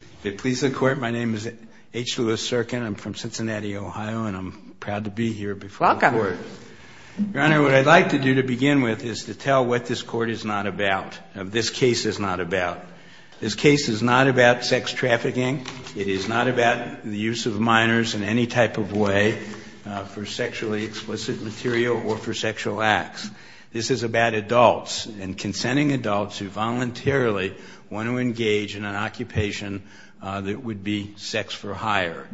If it pleases the Court, my name is H. Lewis Serkin. I'm from Cincinnati, Ohio, and I'm proud to be here before the Court. Welcome. Your Honor, what I'd like to do to begin with is to tell what this Court is not about, this case is not about. This case is not about sex trafficking. It is not about the use of minors in any type of way for sexually explicit material or for sexual acts. This is about adults and consenting adults who voluntarily want to engage in an occupation that would be sex for hire.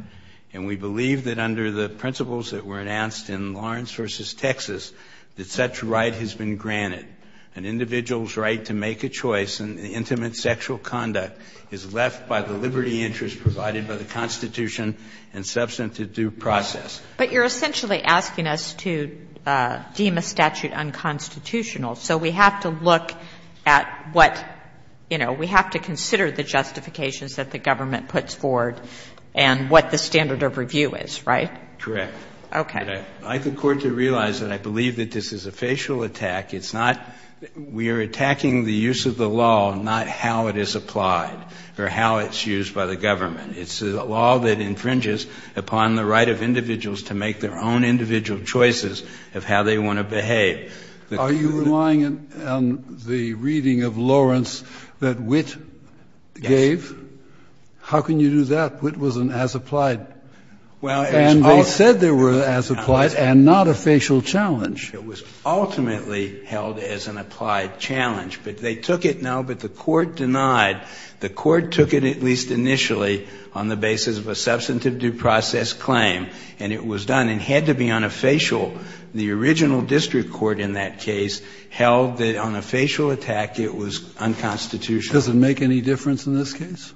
And we believe that under the principles that were announced in Lawrence v. Texas, that such right has been granted. An individual's right to make a choice in intimate sexual conduct is left by the liberty interest provided by the Constitution and substantive due process. But you're essentially asking us to deem a statute unconstitutional. So we have to look at what, you know, we have to consider the justifications that the government puts forward and what the standard of review is, right? Correct. Okay. I'd like the Court to realize that I believe that this is a facial attack. It's not we are attacking the use of the law, not how it is applied or how it's used by the judges to make their own individual choices of how they want to behave. Are you relying on the reading of Lawrence that Witt gave? Yes. How can you do that? Witt was an as-applied. Well, it's also And they said they were as-applied and not a facial challenge. It was ultimately held as an applied challenge. But they took it now, but the Court denied. The Court took it at least initially on the basis of a substantive due process claim, and it was done and had to be on a facial. The original district court in that case held that on a facial attack, it was unconstitutional. Does it make any difference in this case?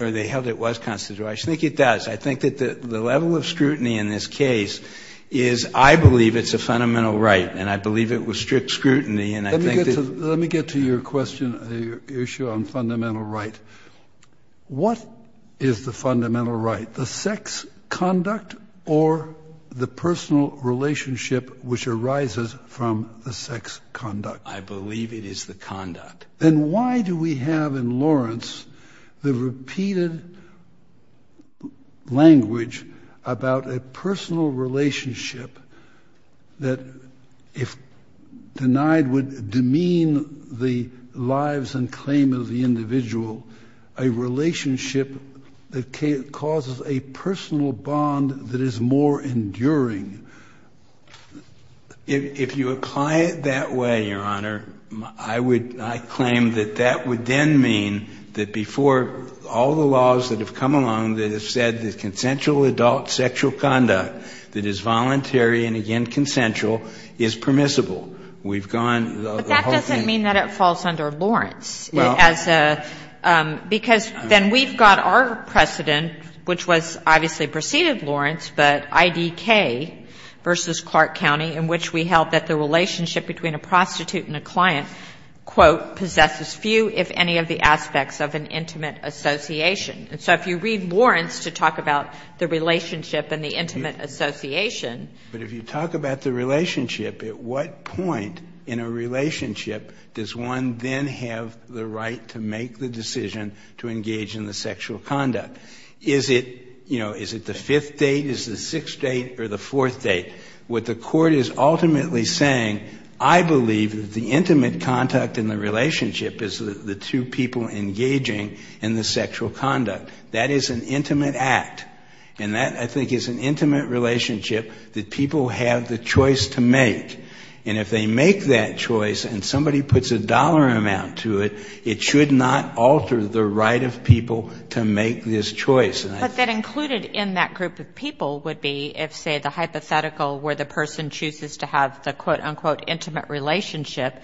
Or they held it was constitutional. I think it does. I think that the level of scrutiny in this case is I believe it's a fundamental right, and I believe it was strict scrutiny, and I think that Let me get to your question, your issue on fundamental right. What is the fundamental right? The sex conduct or the personal relationship which arises from the sex conduct? I believe it is the conduct. Then why do we have in Lawrence the repeated language about a personal relationship that if denied would demean the lives and claim of the individual, a relationship that causes a personal bond that is more enduring? If you apply it that way, Your Honor, I would claim that that would then mean that before all the laws that have come along that have said that consensual adult sexual conduct that is voluntary and, again, consensual, is permissible, we've gone the whole thing. It doesn't mean that it falls under Lawrence, because then we've got our precedent, which was obviously preceded Lawrence, but IDK v. Clark County, in which we held that the relationship between a prostitute and a client, quote, possesses few if any of the aspects of an intimate association. And so if you read Lawrence to talk about the relationship and the intimate association But if you talk about the relationship, at what point in a relationship does one then have the right to make the decision to engage in the sexual conduct? Is it, you know, is it the fifth date, is it the sixth date, or the fourth date? What the Court is ultimately saying, I believe that the intimate contact in the relationship is the two people engaging in the sexual conduct. That is an intimate act. And that, I think, is an intimate relationship that people have the choice to make. And if they make that choice and somebody puts a dollar amount to it, it should not alter the right of people to make this choice. And I think But that included in that group of people would be if, say, the hypothetical where the person chooses to have the, quote, unquote, intimate relationship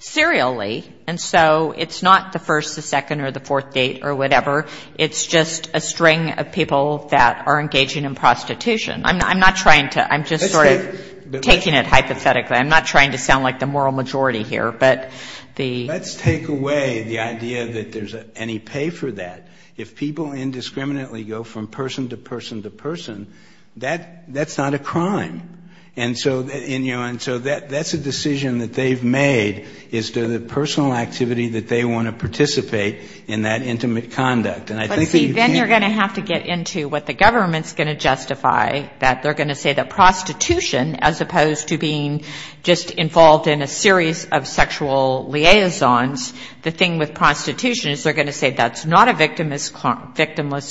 serially, and so it's not the first, the second, or the fourth date or whatever. It's just a string of people that are engaging in prostitution. I'm not trying to, I'm just sort of taking it hypothetically. I'm not trying to sound like the moral majority here, but the Let's take away the idea that there's any pay for that. If people indiscriminately go from person to person to person, that's not a crime. And so, and you know, and so that's a decision that they've made, is to the personal activity that they want to participate in that intimate conduct. And I think that you can't But see, then you're going to have to get into what the government's going to justify, that they're going to say that prostitution, as opposed to being just involved in a series of sexual liaisons, the thing with prostitution is they're going to say that's not a victimless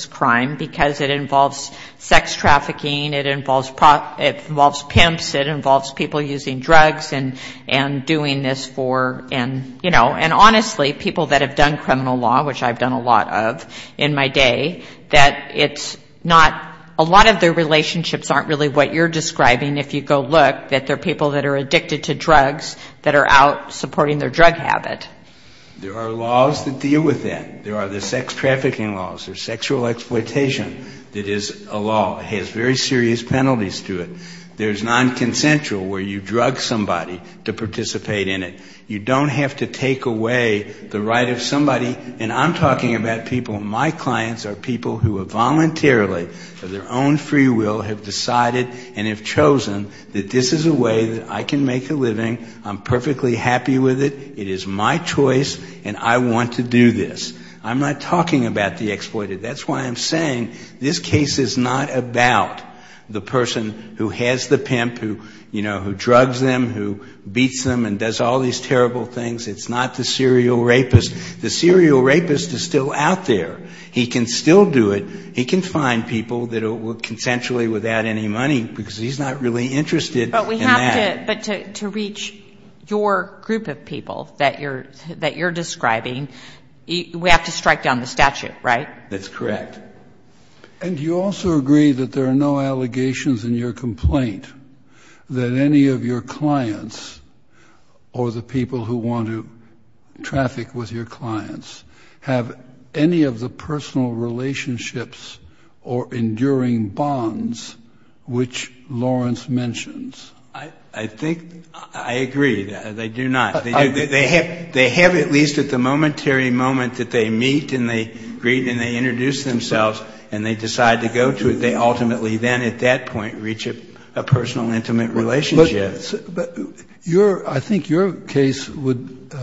crime because it involves sex trafficking. It involves, it involves pimps. It involves people using drugs and doing this for, and you know, and honestly, people that have done criminal law, which I've done a lot of in my day, that it's not, a lot of their relationships aren't really what you're describing if you go look, that they're people that are addicted to drugs that are out supporting their drug habit. There are laws that deal with that. There are the sex trafficking laws. There's sexual exploitation that is a law, has very serious penalties to it. There's non-consensual where you drug somebody to participate in it. You don't have to take away the right of somebody, and I'm talking about people, my clients are people who have voluntarily, of their own free will, have decided and have chosen that this is a way that I can make a living. I'm perfectly happy with it. It is my choice, and I want to do this. I'm not talking about the exploited. That's why I'm saying this case is not about the person who has the pimp, who, you know, who drugs them, who beats them and does all these terrible things. It's not the serial rapist. The serial rapist is still out there. He can still do it. He can find people that will consensually without any money because he's not really interested in that. But to reach your group of people that you're describing, we have to strike down the statute, right? That's correct. And do you also agree that there are no allegations in your complaint that any of your clients or the people who want to traffic with your clients have any of the personal relationships or enduring bonds which Lawrence mentions? I think I agree that they do not. They have at least at the momentary moment that they meet and they greet and they introduce themselves and they decide to go to it. They ultimately then at that point reach a personal intimate relationship. But your, I think your case would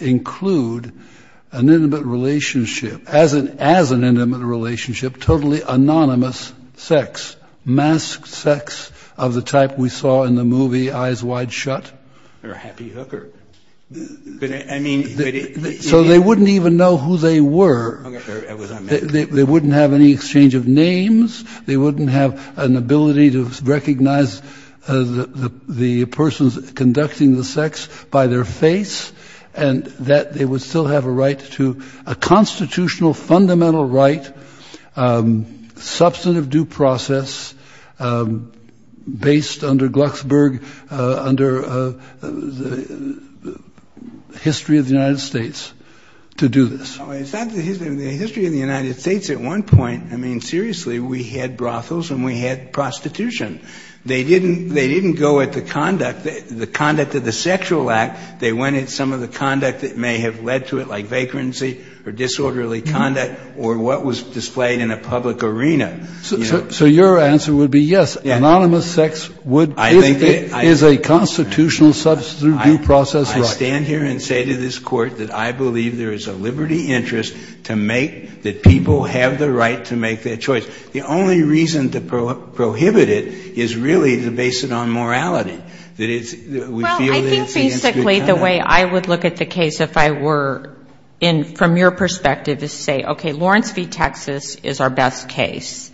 include an intimate relationship as an intimate relationship, totally anonymous sex, masked sex of the type we saw in the movie Eyes Wide Shut. Or Happy Hooker. But I mean. So they wouldn't even know who they were. They wouldn't have any exchange of names. They wouldn't have an ability to recognize the person conducting the sex by their face. And that they would still have a right to a constitutional fundamental right, substantive due process, based under Glucksberg, under the history of the United States, to do this. The history of the United States at one point, I mean, seriously, we had brothels and we had prostitution. They didn't go at the conduct, the conduct of the sexual act. They went at some of the conduct that may have led to it, like vacancy or disorderly conduct or what was displayed in a public arena. So your answer would be yes, anonymous sex would, if it is a constitutional substantive due process right. I stand here and say to this Court that I believe there is a liberty interest to make, that people have the right to make their choice. The only reason to prohibit it is really to base it on morality. That it's, we feel that it's against good conduct. Well, I think basically the way I would look at the case if I were in, from your perspective, is to say, okay, Lawrence v. Texas is our best case.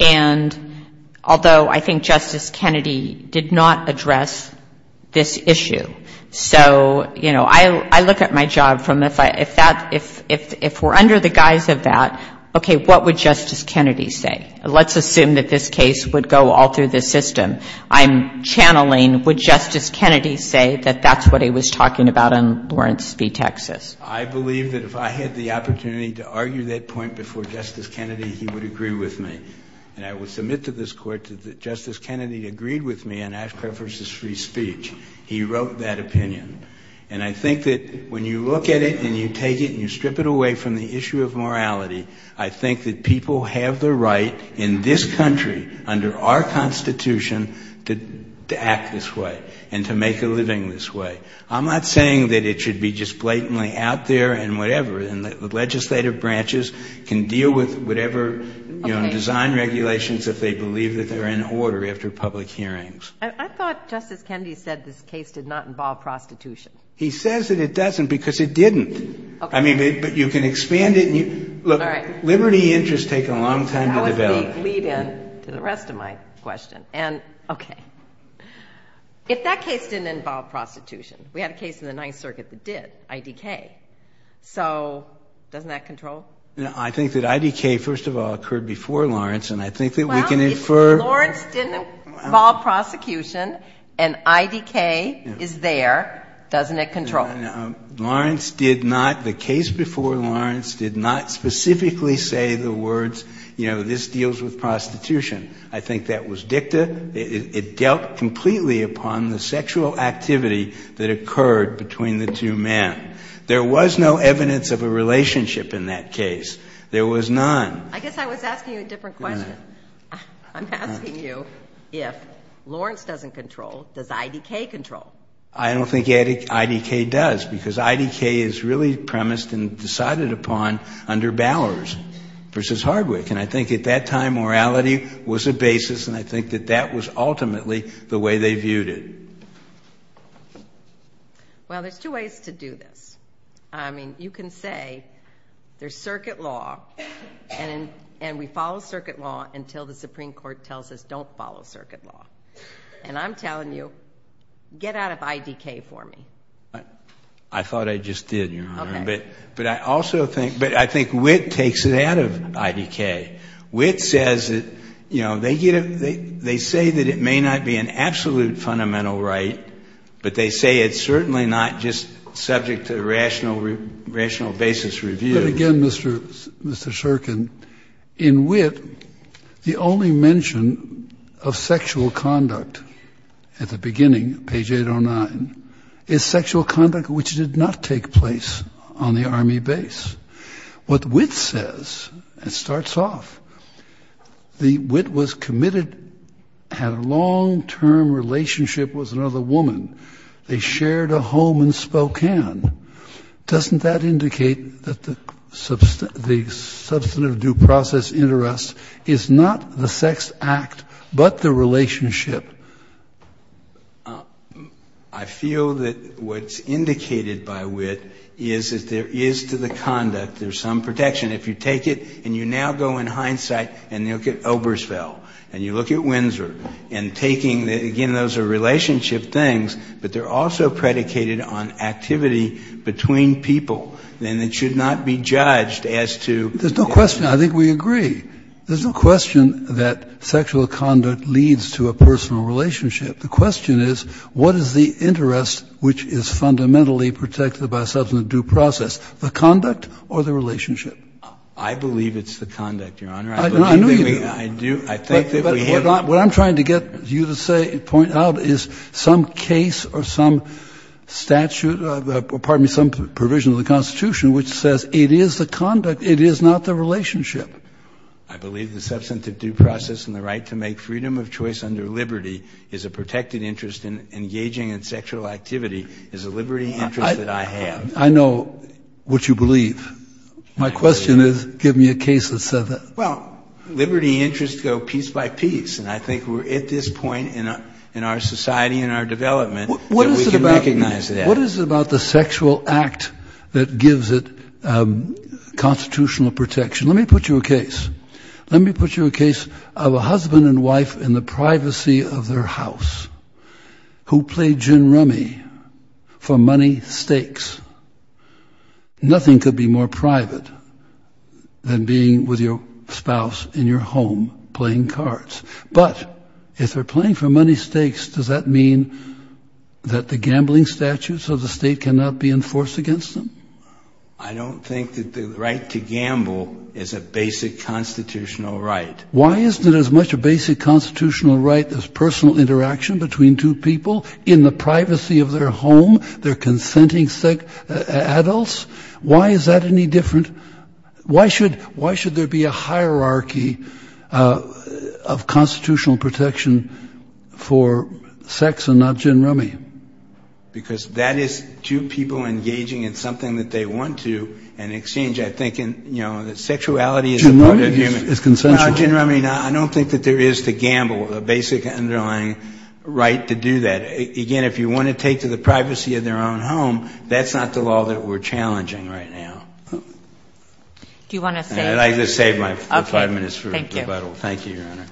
And although I think Justice Kennedy did not address this issue. So, you know, I look at my job from if I, if that, if we're under the guise of that, okay, what would Justice Kennedy say? Let's assume that this case would go all through the system. I'm channeling, would Justice Kennedy say that that's what he was talking about on Lawrence v. Texas? I believe that if I had the opportunity to argue that point before Justice Kennedy, he would agree with me. And I would submit to this Court that Justice Kennedy agreed with me in Ashcroft v. Free Speech. He wrote that opinion. And I think that when you look at it and you take it and you strip it away from the issue of morality, I think that people have the right in this country, under our Constitution, to act this way. And to make a living this way. I'm not saying that it should be just blatantly out there and whatever. And that the legislative branches can deal with whatever, you know, design regulations if they believe that they're in order after public hearings. I thought Justice Kennedy said this case did not involve prostitution. He says that it doesn't because it didn't. I mean, but you can expand it. Look, liberty interests take a long time to develop. That was the lead-in to the rest of my question. And, OK, if that case didn't involve prostitution, we had a case in the Ninth Circuit that did, IDK. So doesn't that control? I think that IDK, first of all, occurred before Lawrence. And I think that we can infer. Lawrence didn't involve prosecution. And IDK is there. Doesn't it control? Lawrence did not, the case before Lawrence did not specifically say the words, you know, this deals with prostitution. I think that was dicta. It dealt completely upon the sexual activity that occurred between the two men. There was no evidence of a relationship in that case. There was none. I guess I was asking you a different question. I'm asking you, if Lawrence doesn't control, does IDK control? I don't think IDK does because IDK is really premised and decided upon under Bowers versus Hardwick. And I think at that time, morality was a basis. And I think that that was ultimately the way they viewed it. Well, there's two ways to do this. I mean, you can say there's circuit law and we follow circuit law until the Supreme Court tells us don't follow circuit law. And I'm telling you, get out of IDK for me. I thought I just did, Your Honor. But I also think, but I think Witt takes it out of IDK. Witt says that, you know, they say that it may not be an absolute fundamental right, but they say it's certainly not just subject to rational basis review. But again, Mr. Shurkin, in Witt, the only mention of sexual conduct at the beginning, page 809, is sexual conduct which did not take place on the Army base. What Witt says, it starts off, the Witt was committed, had a long-term relationship with another woman. They shared a home in Spokane. Doesn't that indicate that the substantive due process interest is not the sex act, but the relationship? I feel that what's indicated by Witt is that there is to the conduct, there's some protection. If you take it and you now go in hindsight and you look at Oberstfeld, and you look at Windsor, and taking, again, those are relationship things, but they're also predicated on activity between people, and it should not be judged as to. There's no question, I think we agree. There's no question that sexual conduct leads to a personal relationship. The question is, what is the interest which is fundamentally protected by substantive due process, the conduct or the relationship? I believe it's the conduct, Your Honor. I do. I think that we have. What I'm trying to get you to say, point out, is some case or some statute, pardon me, some provision of the Constitution which says it is the conduct, it is not the relationship. I believe the substantive due process and the right to make freedom of choice under liberty is a protected interest in engaging in sexual activity, is a liberty interest that I have. I know what you believe. My question is, give me a case that said that. Well, liberty interests go piece by piece. And I think we're at this point in our society and our development that we can recognize that. What is it about the sexual act that gives it constitutional protection? Let me put you a case. Let me put you a case of a husband and wife in the privacy of their house, who played gin rummy for money stakes. Nothing could be more private than being with your spouse in your home playing cards. But if they're playing for money stakes, does that mean that the gambling statutes of the state cannot be enforced against them? I don't think that the right to gamble is a basic constitutional right. Why isn't it as much a basic constitutional right as personal interaction between two people in the privacy of their home, they're consenting adults? Why is that any different? Why should there be a hierarchy of constitutional protection for sex and not gin rummy? Because that is two people engaging in something that they want to, and in exchange, I think that sexuality is a part of human- Gin rummy is consensual. No, gin rummy, I don't think that there is the gamble, the basic underlying right to do that. Again, if you want to take to the privacy of their own home, that's not the law that we're challenging right now. And I just saved my five minutes for rebuttal. Thank you, Your Honor.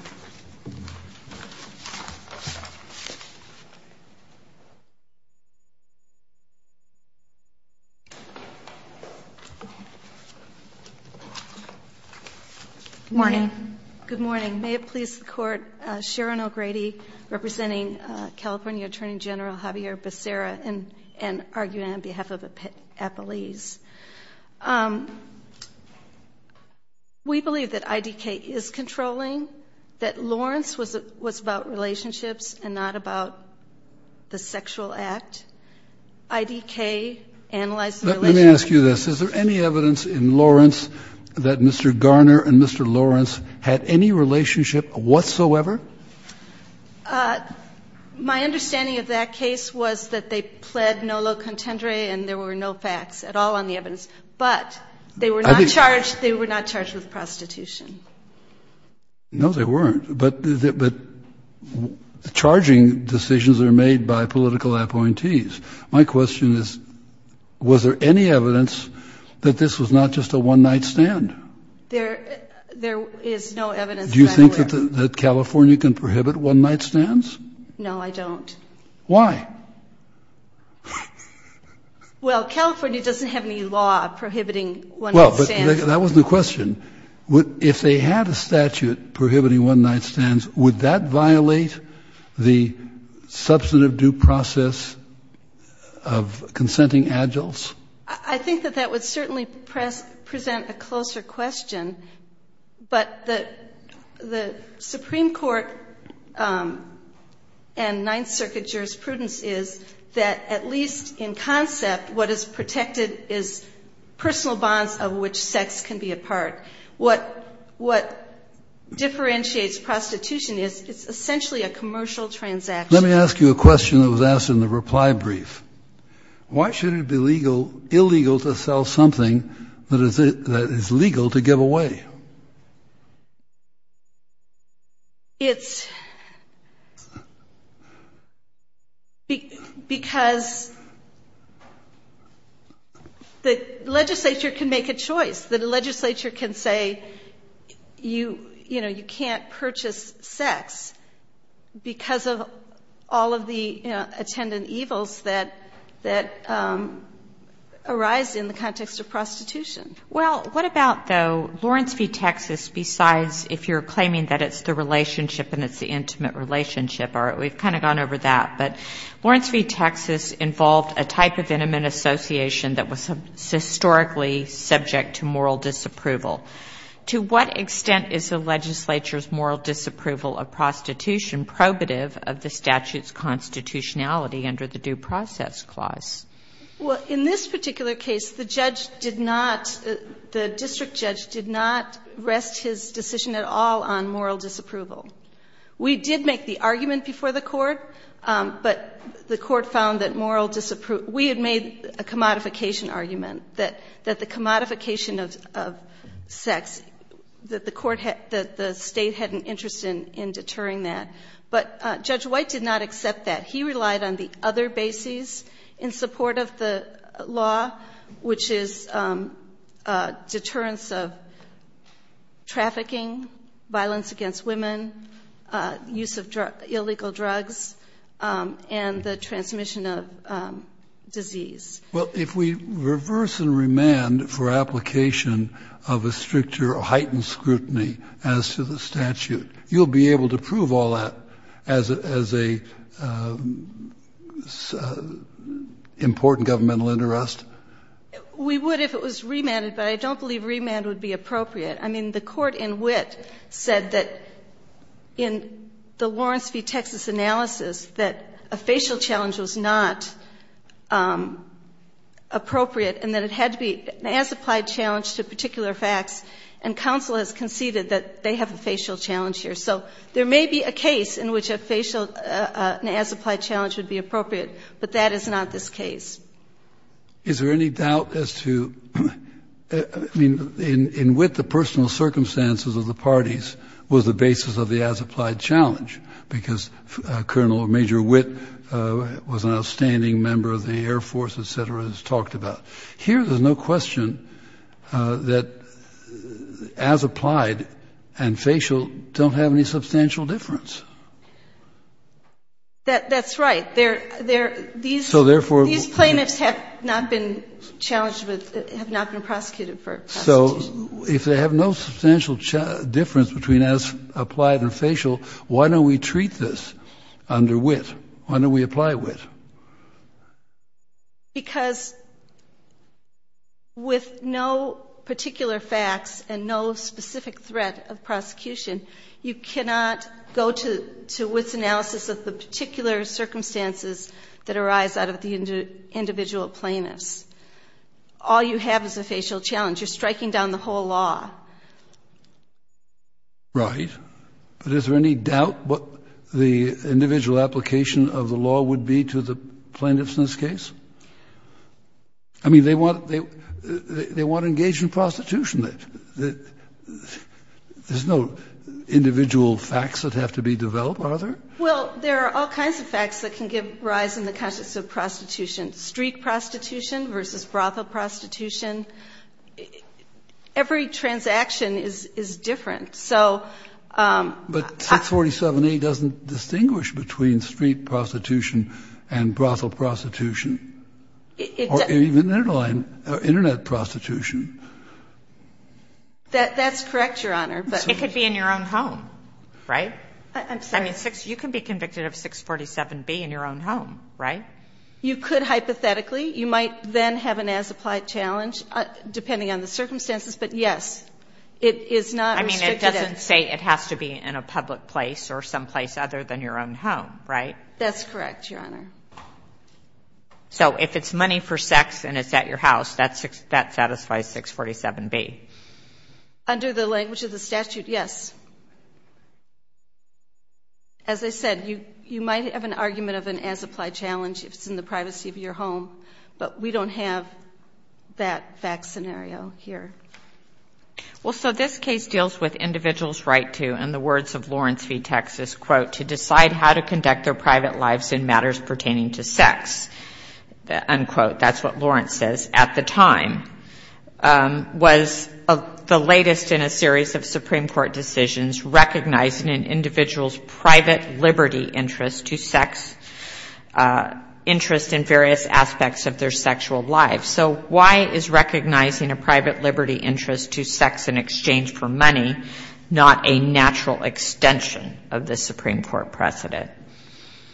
Good morning. Good morning. May it please the court, Sharon O'Grady representing California Attorney General Javier Becerra and arguing on behalf of the appellees. We believe that IDK is controlling, that Lawrence was about relationships and not about the sexual act. IDK analyzed the relationship- Had any relationship whatsoever? My understanding of that case was that they pled no lo contendere and there were no facts at all on the evidence. But they were not charged, they were not charged with prostitution. No, they weren't, but the charging decisions are made by political appointees. My question is, was there any evidence that this was not just a one night stand? There is no evidence that I'm aware of. Do you think that California can prohibit one night stands? No, I don't. Why? Well, California doesn't have any law prohibiting one night stands. That was the question. If they had a statute prohibiting one night stands, would that violate the substantive due process of consenting Agiles? I think that that would certainly present a closer question. But the Supreme Court and Ninth Circuit jurisprudence is that at least in concept, what is protected is personal bonds of which sex can be a part. What differentiates prostitution is it's essentially a commercial transaction. Let me ask you a question that was asked in the reply brief. Why shouldn't it be illegal to sell something that is legal to give away? Because the legislature can make a choice. The legislature can say, you can't purchase sex because of all of the attendant evils that arise in the context of prostitution. Well, what about though Lawrence v. Texas, besides if you're claiming that it's the relationship and it's the intimate relationship, we've kind of gone over that. But Lawrence v. Texas involved a type of intimate association that was historically subject to moral disapproval. To what extent is the legislature's moral disapproval of prostitution probative of the statute's constitutionality under the due process clause? Well, in this particular case, the judge did not, the district judge did not rest his decision at all on moral disapproval. We did make the argument before the court, but the court found that moral disapproval, we had made a commodification argument that the commodification of sex, that the state had an interest in deterring that. But Judge White did not accept that. He relied on the other bases in support of the law, which is deterrence of trafficking, violence against women, use of illegal drugs, and the transmission of disease. Well, if we reverse and remand for application of a stricter or heightened scrutiny as to the statute, you'll be able to prove all that as a important governmental interest? We would if it was remanded, but I don't believe remand would be appropriate. I mean, the court in wit said that in the Lawrence v. Texas analysis, that a facial challenge was not appropriate and that it had to be an as-applied challenge to particular facts. And counsel has conceded that they have a facial challenge here. So there may be a case in which a facial, an as-applied challenge would be appropriate, but that is not this case. Is there any doubt as to, I mean, in wit, because Colonel or Major Witt was an outstanding member of the Air Force, et cetera, has talked about. Here, there's no question that as-applied and facial don't have any substantial difference. That's right. These plaintiffs have not been challenged, have not been prosecuted for prosecution. So if they have no substantial difference between as-applied and facial, why don't we treat this under wit? Why don't we apply wit? Because with no particular facts and no specific threat of prosecution, you cannot go to Witt's analysis of the particular circumstances that arise out of the individual plaintiffs. All you have is a facial challenge. You're striking down the whole law. Right. But is there any doubt what the individual application of the law would be to the plaintiffs in this case? I mean, they want to engage in prostitution. There's no individual facts that have to be developed, are there? Well, there are all kinds of facts that can give rise in the context of prostitution. Streak prostitution versus brothel prostitution. Every transaction is different. But 647A doesn't distinguish between street prostitution and brothel prostitution. Or even internet prostitution. That's correct, Your Honor. It could be in your own home, right? I'm sorry. You can be convicted of 647B in your own home, right? You could hypothetically. You might then have an as-applied challenge, depending on the circumstances. But, yes, it is not restricted. I mean, it doesn't say it has to be in a public place or someplace other than your own home, right? That's correct, Your Honor. So if it's money for sex and it's at your house, that satisfies 647B? Under the language of the statute, yes. As I said, you might have an argument of an as-applied challenge if it's in the privacy of your home. But we don't have that scenario here. Well, so this case deals with individuals' right to, in the words of Lawrence v. Texas, quote, to decide how to conduct their private lives in matters pertaining to sex, unquote. That's what Lawrence says. At the time, was the latest in a series of Supreme Court decisions recognizing an individual's private liberty interest to sex, interest in various aspects of their sexual lives. So why is recognizing a private liberty interest to sex in exchange for money not a natural extension of the Supreme Court precedent?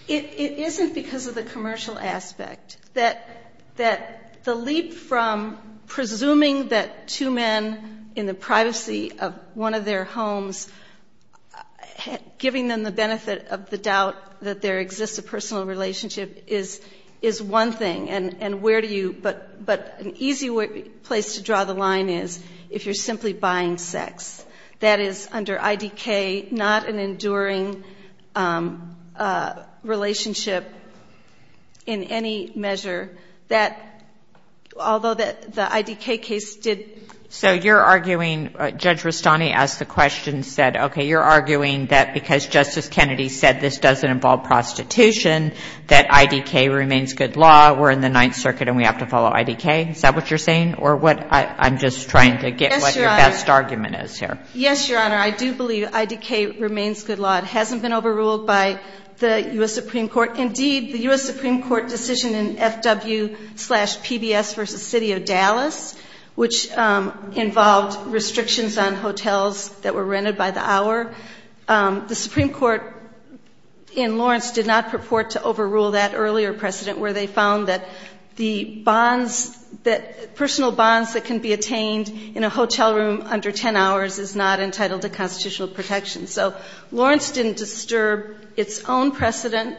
It isn't because of the commercial aspect. That the leap from presuming that two men in the privacy of one of their homes, giving them the benefit of the doubt that there exists a personal relationship is one thing. And where do you – but an easy place to draw the line is if you're simply buying sex. That is, under IDK, not an enduring relationship in any measure that, although the IDK case did – So you're arguing, Judge Rustani asked the question, said, okay, you're arguing that because Justice Kennedy said this doesn't involve prostitution, that IDK remains good law. We're in the Ninth Circuit and we have to follow IDK. Is that what you're saying or what – I'm just trying to get what your best argument is here. Yes, Your Honor. I do believe IDK remains good law. It hasn't been overruled by the U.S. Supreme Court. Indeed, the U.S. Supreme Court decision in FW-PBS v. City of Dallas, which involved restrictions on hotels that were rented by the hour, the Supreme Court in Lawrence did not purport to overrule that earlier precedent where they found that the bonds that – personal bonds that can be attained in a hotel room under 10 hours is not entitled to constitutional protection. So Lawrence didn't disturb its own precedent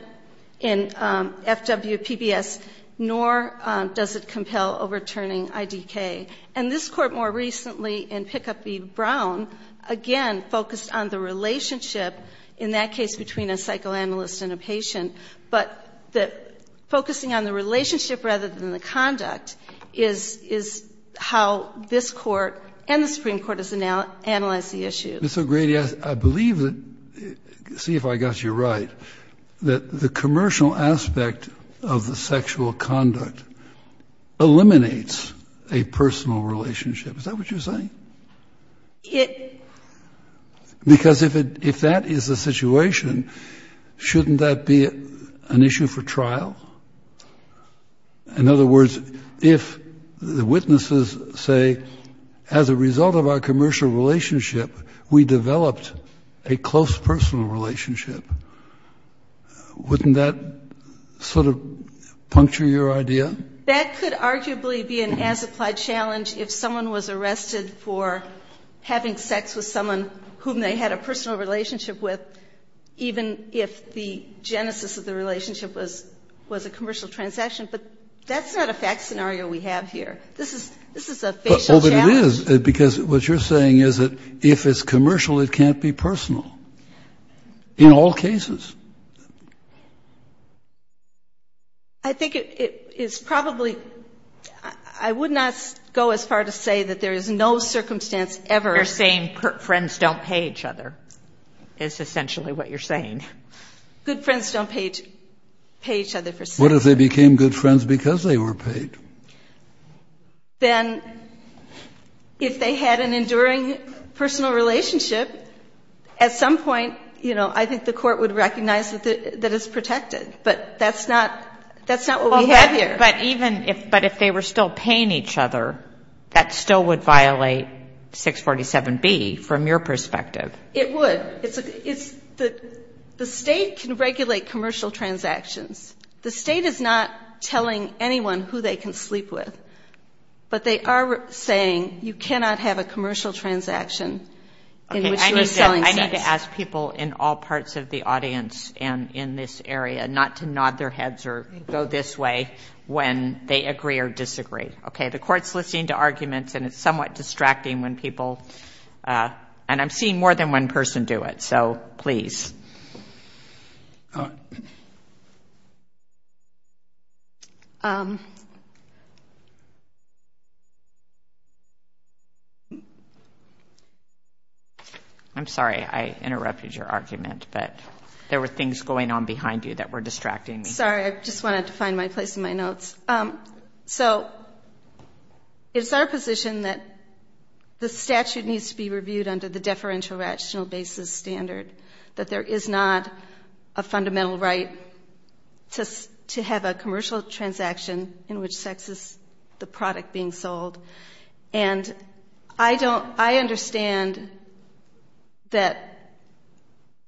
in FW-PBS, nor does it compel overturning IDK. And this Court more recently in Pickup v. Brown, again, focused on the relationship in that case between a psychoanalyst and a patient, but focusing on the relationship rather than the conduct is how this Court and the Supreme Court has analyzed the issue. Ms. O'Grady, I believe that – see if I got you right – that the commercial aspect of the sexual conduct eliminates a personal relationship. Is that what you're saying? Because if that is the situation, shouldn't that be an issue for trial? In other words, if the witnesses say, as a result of our commercial relationship, we can't be personal? That could arguably be an as-applied challenge if someone was arrested for having sex with someone whom they had a personal relationship with, even if the genesis of the relationship was a commercial transaction. But that's not a fact scenario we have here. This is a facial challenge. Well, but it is, because what you're saying is that if it's commercial, it can't be personal in all cases. I think it is probably – I would not go as far to say that there is no circumstance ever – You're saying friends don't pay each other, is essentially what you're saying. Good friends don't pay each other for sex. What if they became good friends because they were paid? Then, if they had an enduring personal relationship, at some point, you know, I think the Court would recognize that it's protected. But that's not what we have here. But if they were still paying each other, that still would violate 647B from your perspective. It would. The State can regulate commercial transactions. The State is not telling anyone who they can sleep with. But they are saying you cannot have a commercial transaction in which you are selling sex. I'm trying to ask people in all parts of the audience and in this area not to nod their heads or go this way when they agree or disagree. Okay? The Court's listening to arguments, and it's somewhat distracting when people – and I'm seeing more than one person do it. So please. I'm sorry, I interrupted your argument, but there were things going on behind you that were distracting me. Sorry. I just wanted to find my place in my notes. So it's our position that the statute needs to be reviewed under the deferential rational basis standard, that there is not a fundamental right to have a commercial transaction in which sex is the product being sold. And I don't – I understand that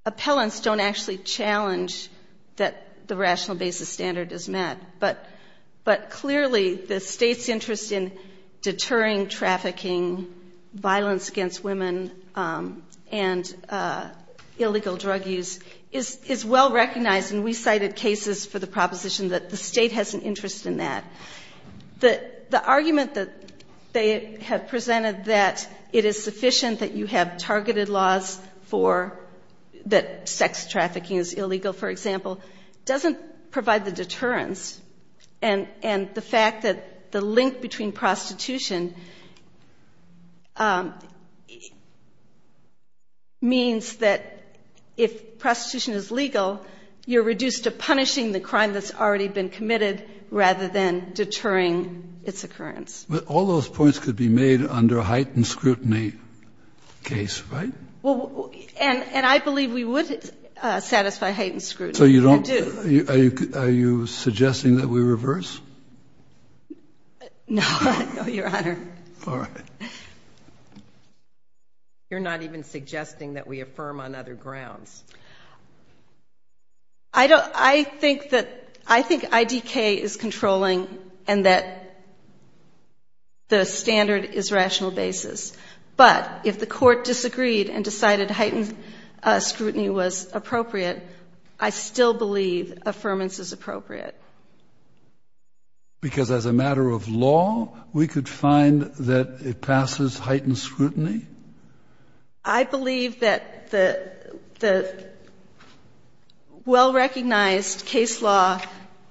appellants don't actually challenge that the rational basis standard is met. But clearly, the State's interest in deterring trafficking, violence against women, and illegal drug use is well-recognized, and we cited cases for the proposition that the State has an interest in that. The argument that they have presented that it is sufficient that you have targeted laws for – that sex trafficking is illegal, for example, doesn't provide the deterrence, and the fact that the link between prostitution means that if prostitution is legal, you're reduced to punishing the crime that's already been committed rather than deterring its occurrence. But all those points could be made under a heightened scrutiny case, right? Well, and I believe we would satisfy heightened scrutiny. So you don't – are you suggesting that we reverse? No, Your Honor. All right. You're not even suggesting that we affirm on other grounds. I don't – I think that – I think IDK is controlling and that the standard is rational basis, but if the court disagreed and decided heightened scrutiny was appropriate, I still believe affirmance is appropriate. Because as a matter of law, we could find that it passes heightened scrutiny? I believe that the well-recognized case law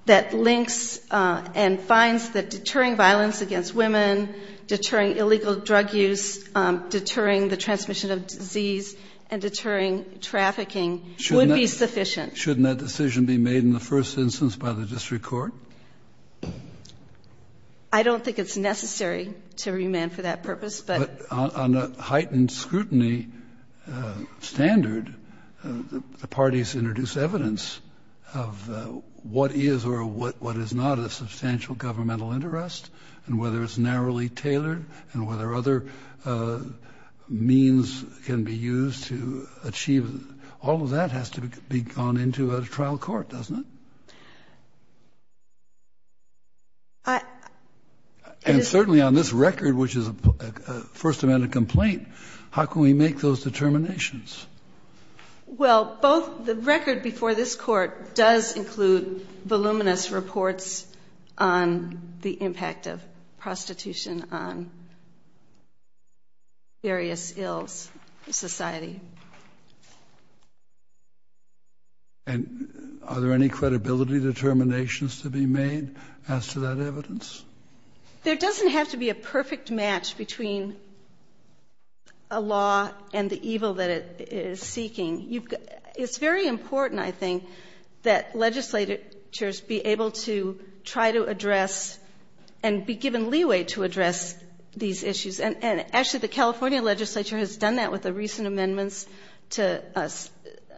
that links and finds that deterring violence against women, deterring illegal drug use, deterring the transmission of disease, and deterring trafficking would be sufficient. Shouldn't that decision be made in the first instance by the district court? I don't think it's necessary to remand for that purpose, but – But on a heightened scrutiny standard, the parties introduce evidence of what is or what is not of substantial governmental interest and whether it's narrowly tailored and whether other means can be used to achieve – all of that has to be gone into a trial court, doesn't it? I – And certainly on this record, which is a First Amendment complaint, how can we make those determinations? Well, both – the record before this court does include voluminous reports on the impact of prostitution on various ills in society. And are there any credibility determinations to be made as to that evidence? There doesn't have to be a perfect match between a law and the evil that it is seeking. It's very important, I think, that legislatures be able to try to address and be given leeway to address these issues. And actually, the California legislature has done that with the recent amendments to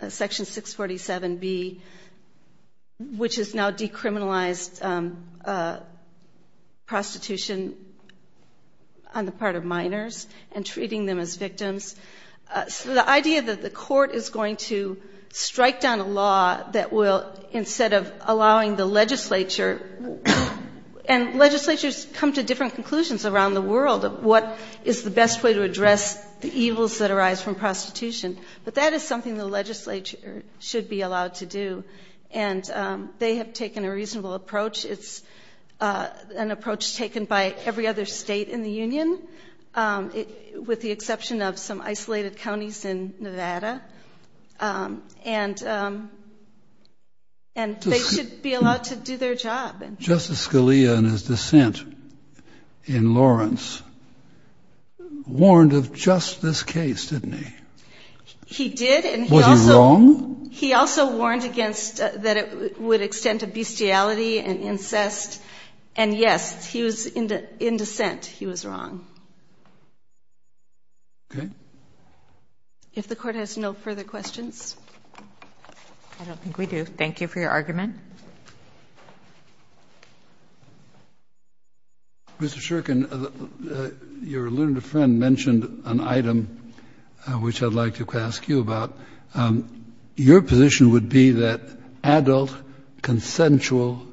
Section 647B, which has now decriminalized prostitution on the part of minors and treating them as victims. So the idea that the court is going to strike down a law that will – instead of allowing the legislature – and legislatures come to different conclusions around the world of what is the best way to address the evils that arise from prostitution. But that is something the legislature should be allowed to do. And they have taken a reasonable approach. It's an approach taken by every other state in the union, with the exception of some isolated counties in Nevada. And they should be allowed to do their job. Justice Scalia, in his dissent in Lawrence, warned of just this case, didn't he? He did. Was he wrong? He also warned against – that it would extend to bestiality and incest. And yes, he was – in dissent, he was wrong. Okay. If the court has no further questions. I don't think we do. Thank you for your argument. Mr. Shurkin, your alluded friend mentioned an item which I'd like to ask you about. Your position would be that adult, consensual,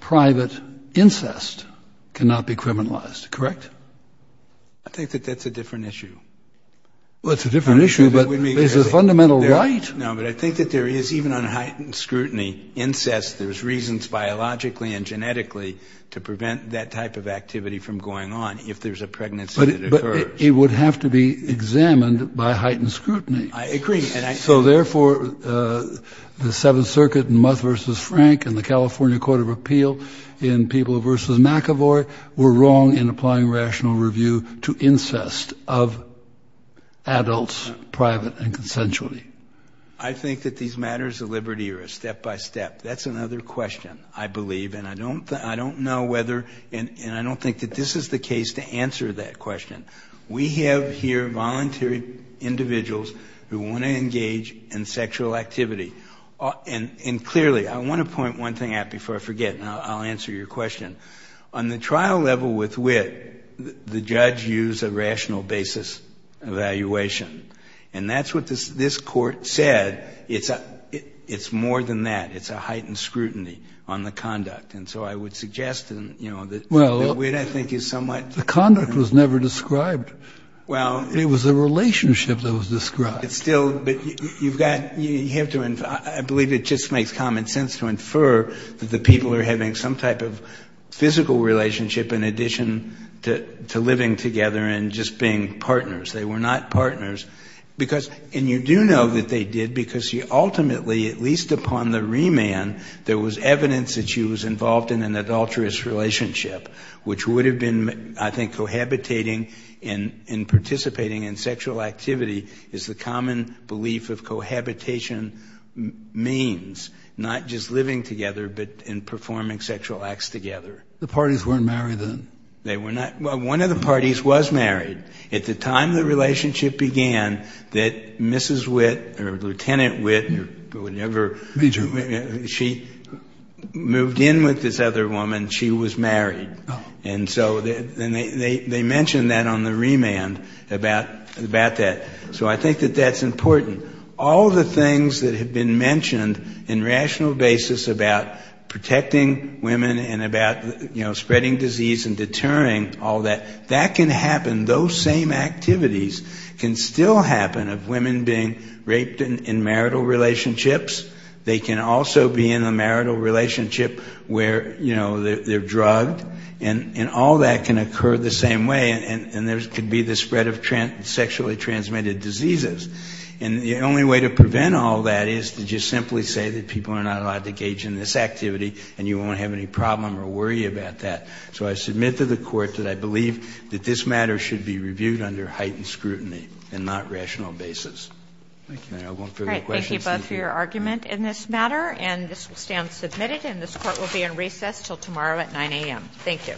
private incest cannot be criminalized, correct? I think that that's a different issue. Well, it's a different issue, but it's a fundamental right. No, but I think that there is, even on heightened scrutiny, incest. There's reasons biologically and genetically to prevent that type of activity from going on, if there's a pregnancy that occurs. But it would have to be examined by heightened scrutiny. I agree. So therefore, the Seventh Circuit in Muth v. Frank and the California Court of Appeal in People v. McAvoy were wrong in applying rational review to incest of adults, private and consensually. I think that these matters of liberty are a step by step. That's another question, I believe. And I don't know whether, and I don't think that this is the case to answer that question. We have here voluntary individuals who want to engage in sexual activity. And clearly, I want to point one thing out before I forget, and I'll answer your question. On the trial level with wit, the judge used a rational basis evaluation. And that's what this Court said. It's more than that. It's a heightened scrutiny on the conduct. And so I would suggest that wit, I think, is somewhat... The conduct was never described. Well... It was the relationship that was described. It's still, but you've got, you have to, I believe it just makes common sense to infer that the people are having some type of physical relationship in addition to living together and just being partners. They were not partners. Because, and you do know that they did because you ultimately, at least upon the remand, there was evidence that she was involved in an adulterous relationship, which would have been, I think, cohabitating and participating in sexual activity is the common belief of cohabitation means, not just living together but in performing sexual acts together. The parties weren't married then? They were not. Well, one of the parties was married. At the time the relationship began, that Mrs. Wit or Lieutenant Wit or whatever... Major. She moved in with this other woman. She was married. Oh. And so they mentioned that on the remand about that. So I think that that's important. All the things that have been mentioned in rational basis about protecting women and about, you know, spreading disease and deterring, all that, that can happen, those same activities can still happen of women being raped in marital relationships. They can also be in a marital relationship where, you know, they're drugged. And all that can occur the same way. And there could be the spread of sexually transmitted diseases. And the only way to prevent all that is to just simply say that people are not allowed to engage in this activity and you won't have any problem or worry about that. So I submit to the Court that I believe that this matter should be reviewed under heightened scrutiny and not rational basis. Thank you. I have no further questions. All right. Thank you both for your argument in this matter. And this will stand submitted. And this Court will be in recess until tomorrow at 9 a.m. Thank you.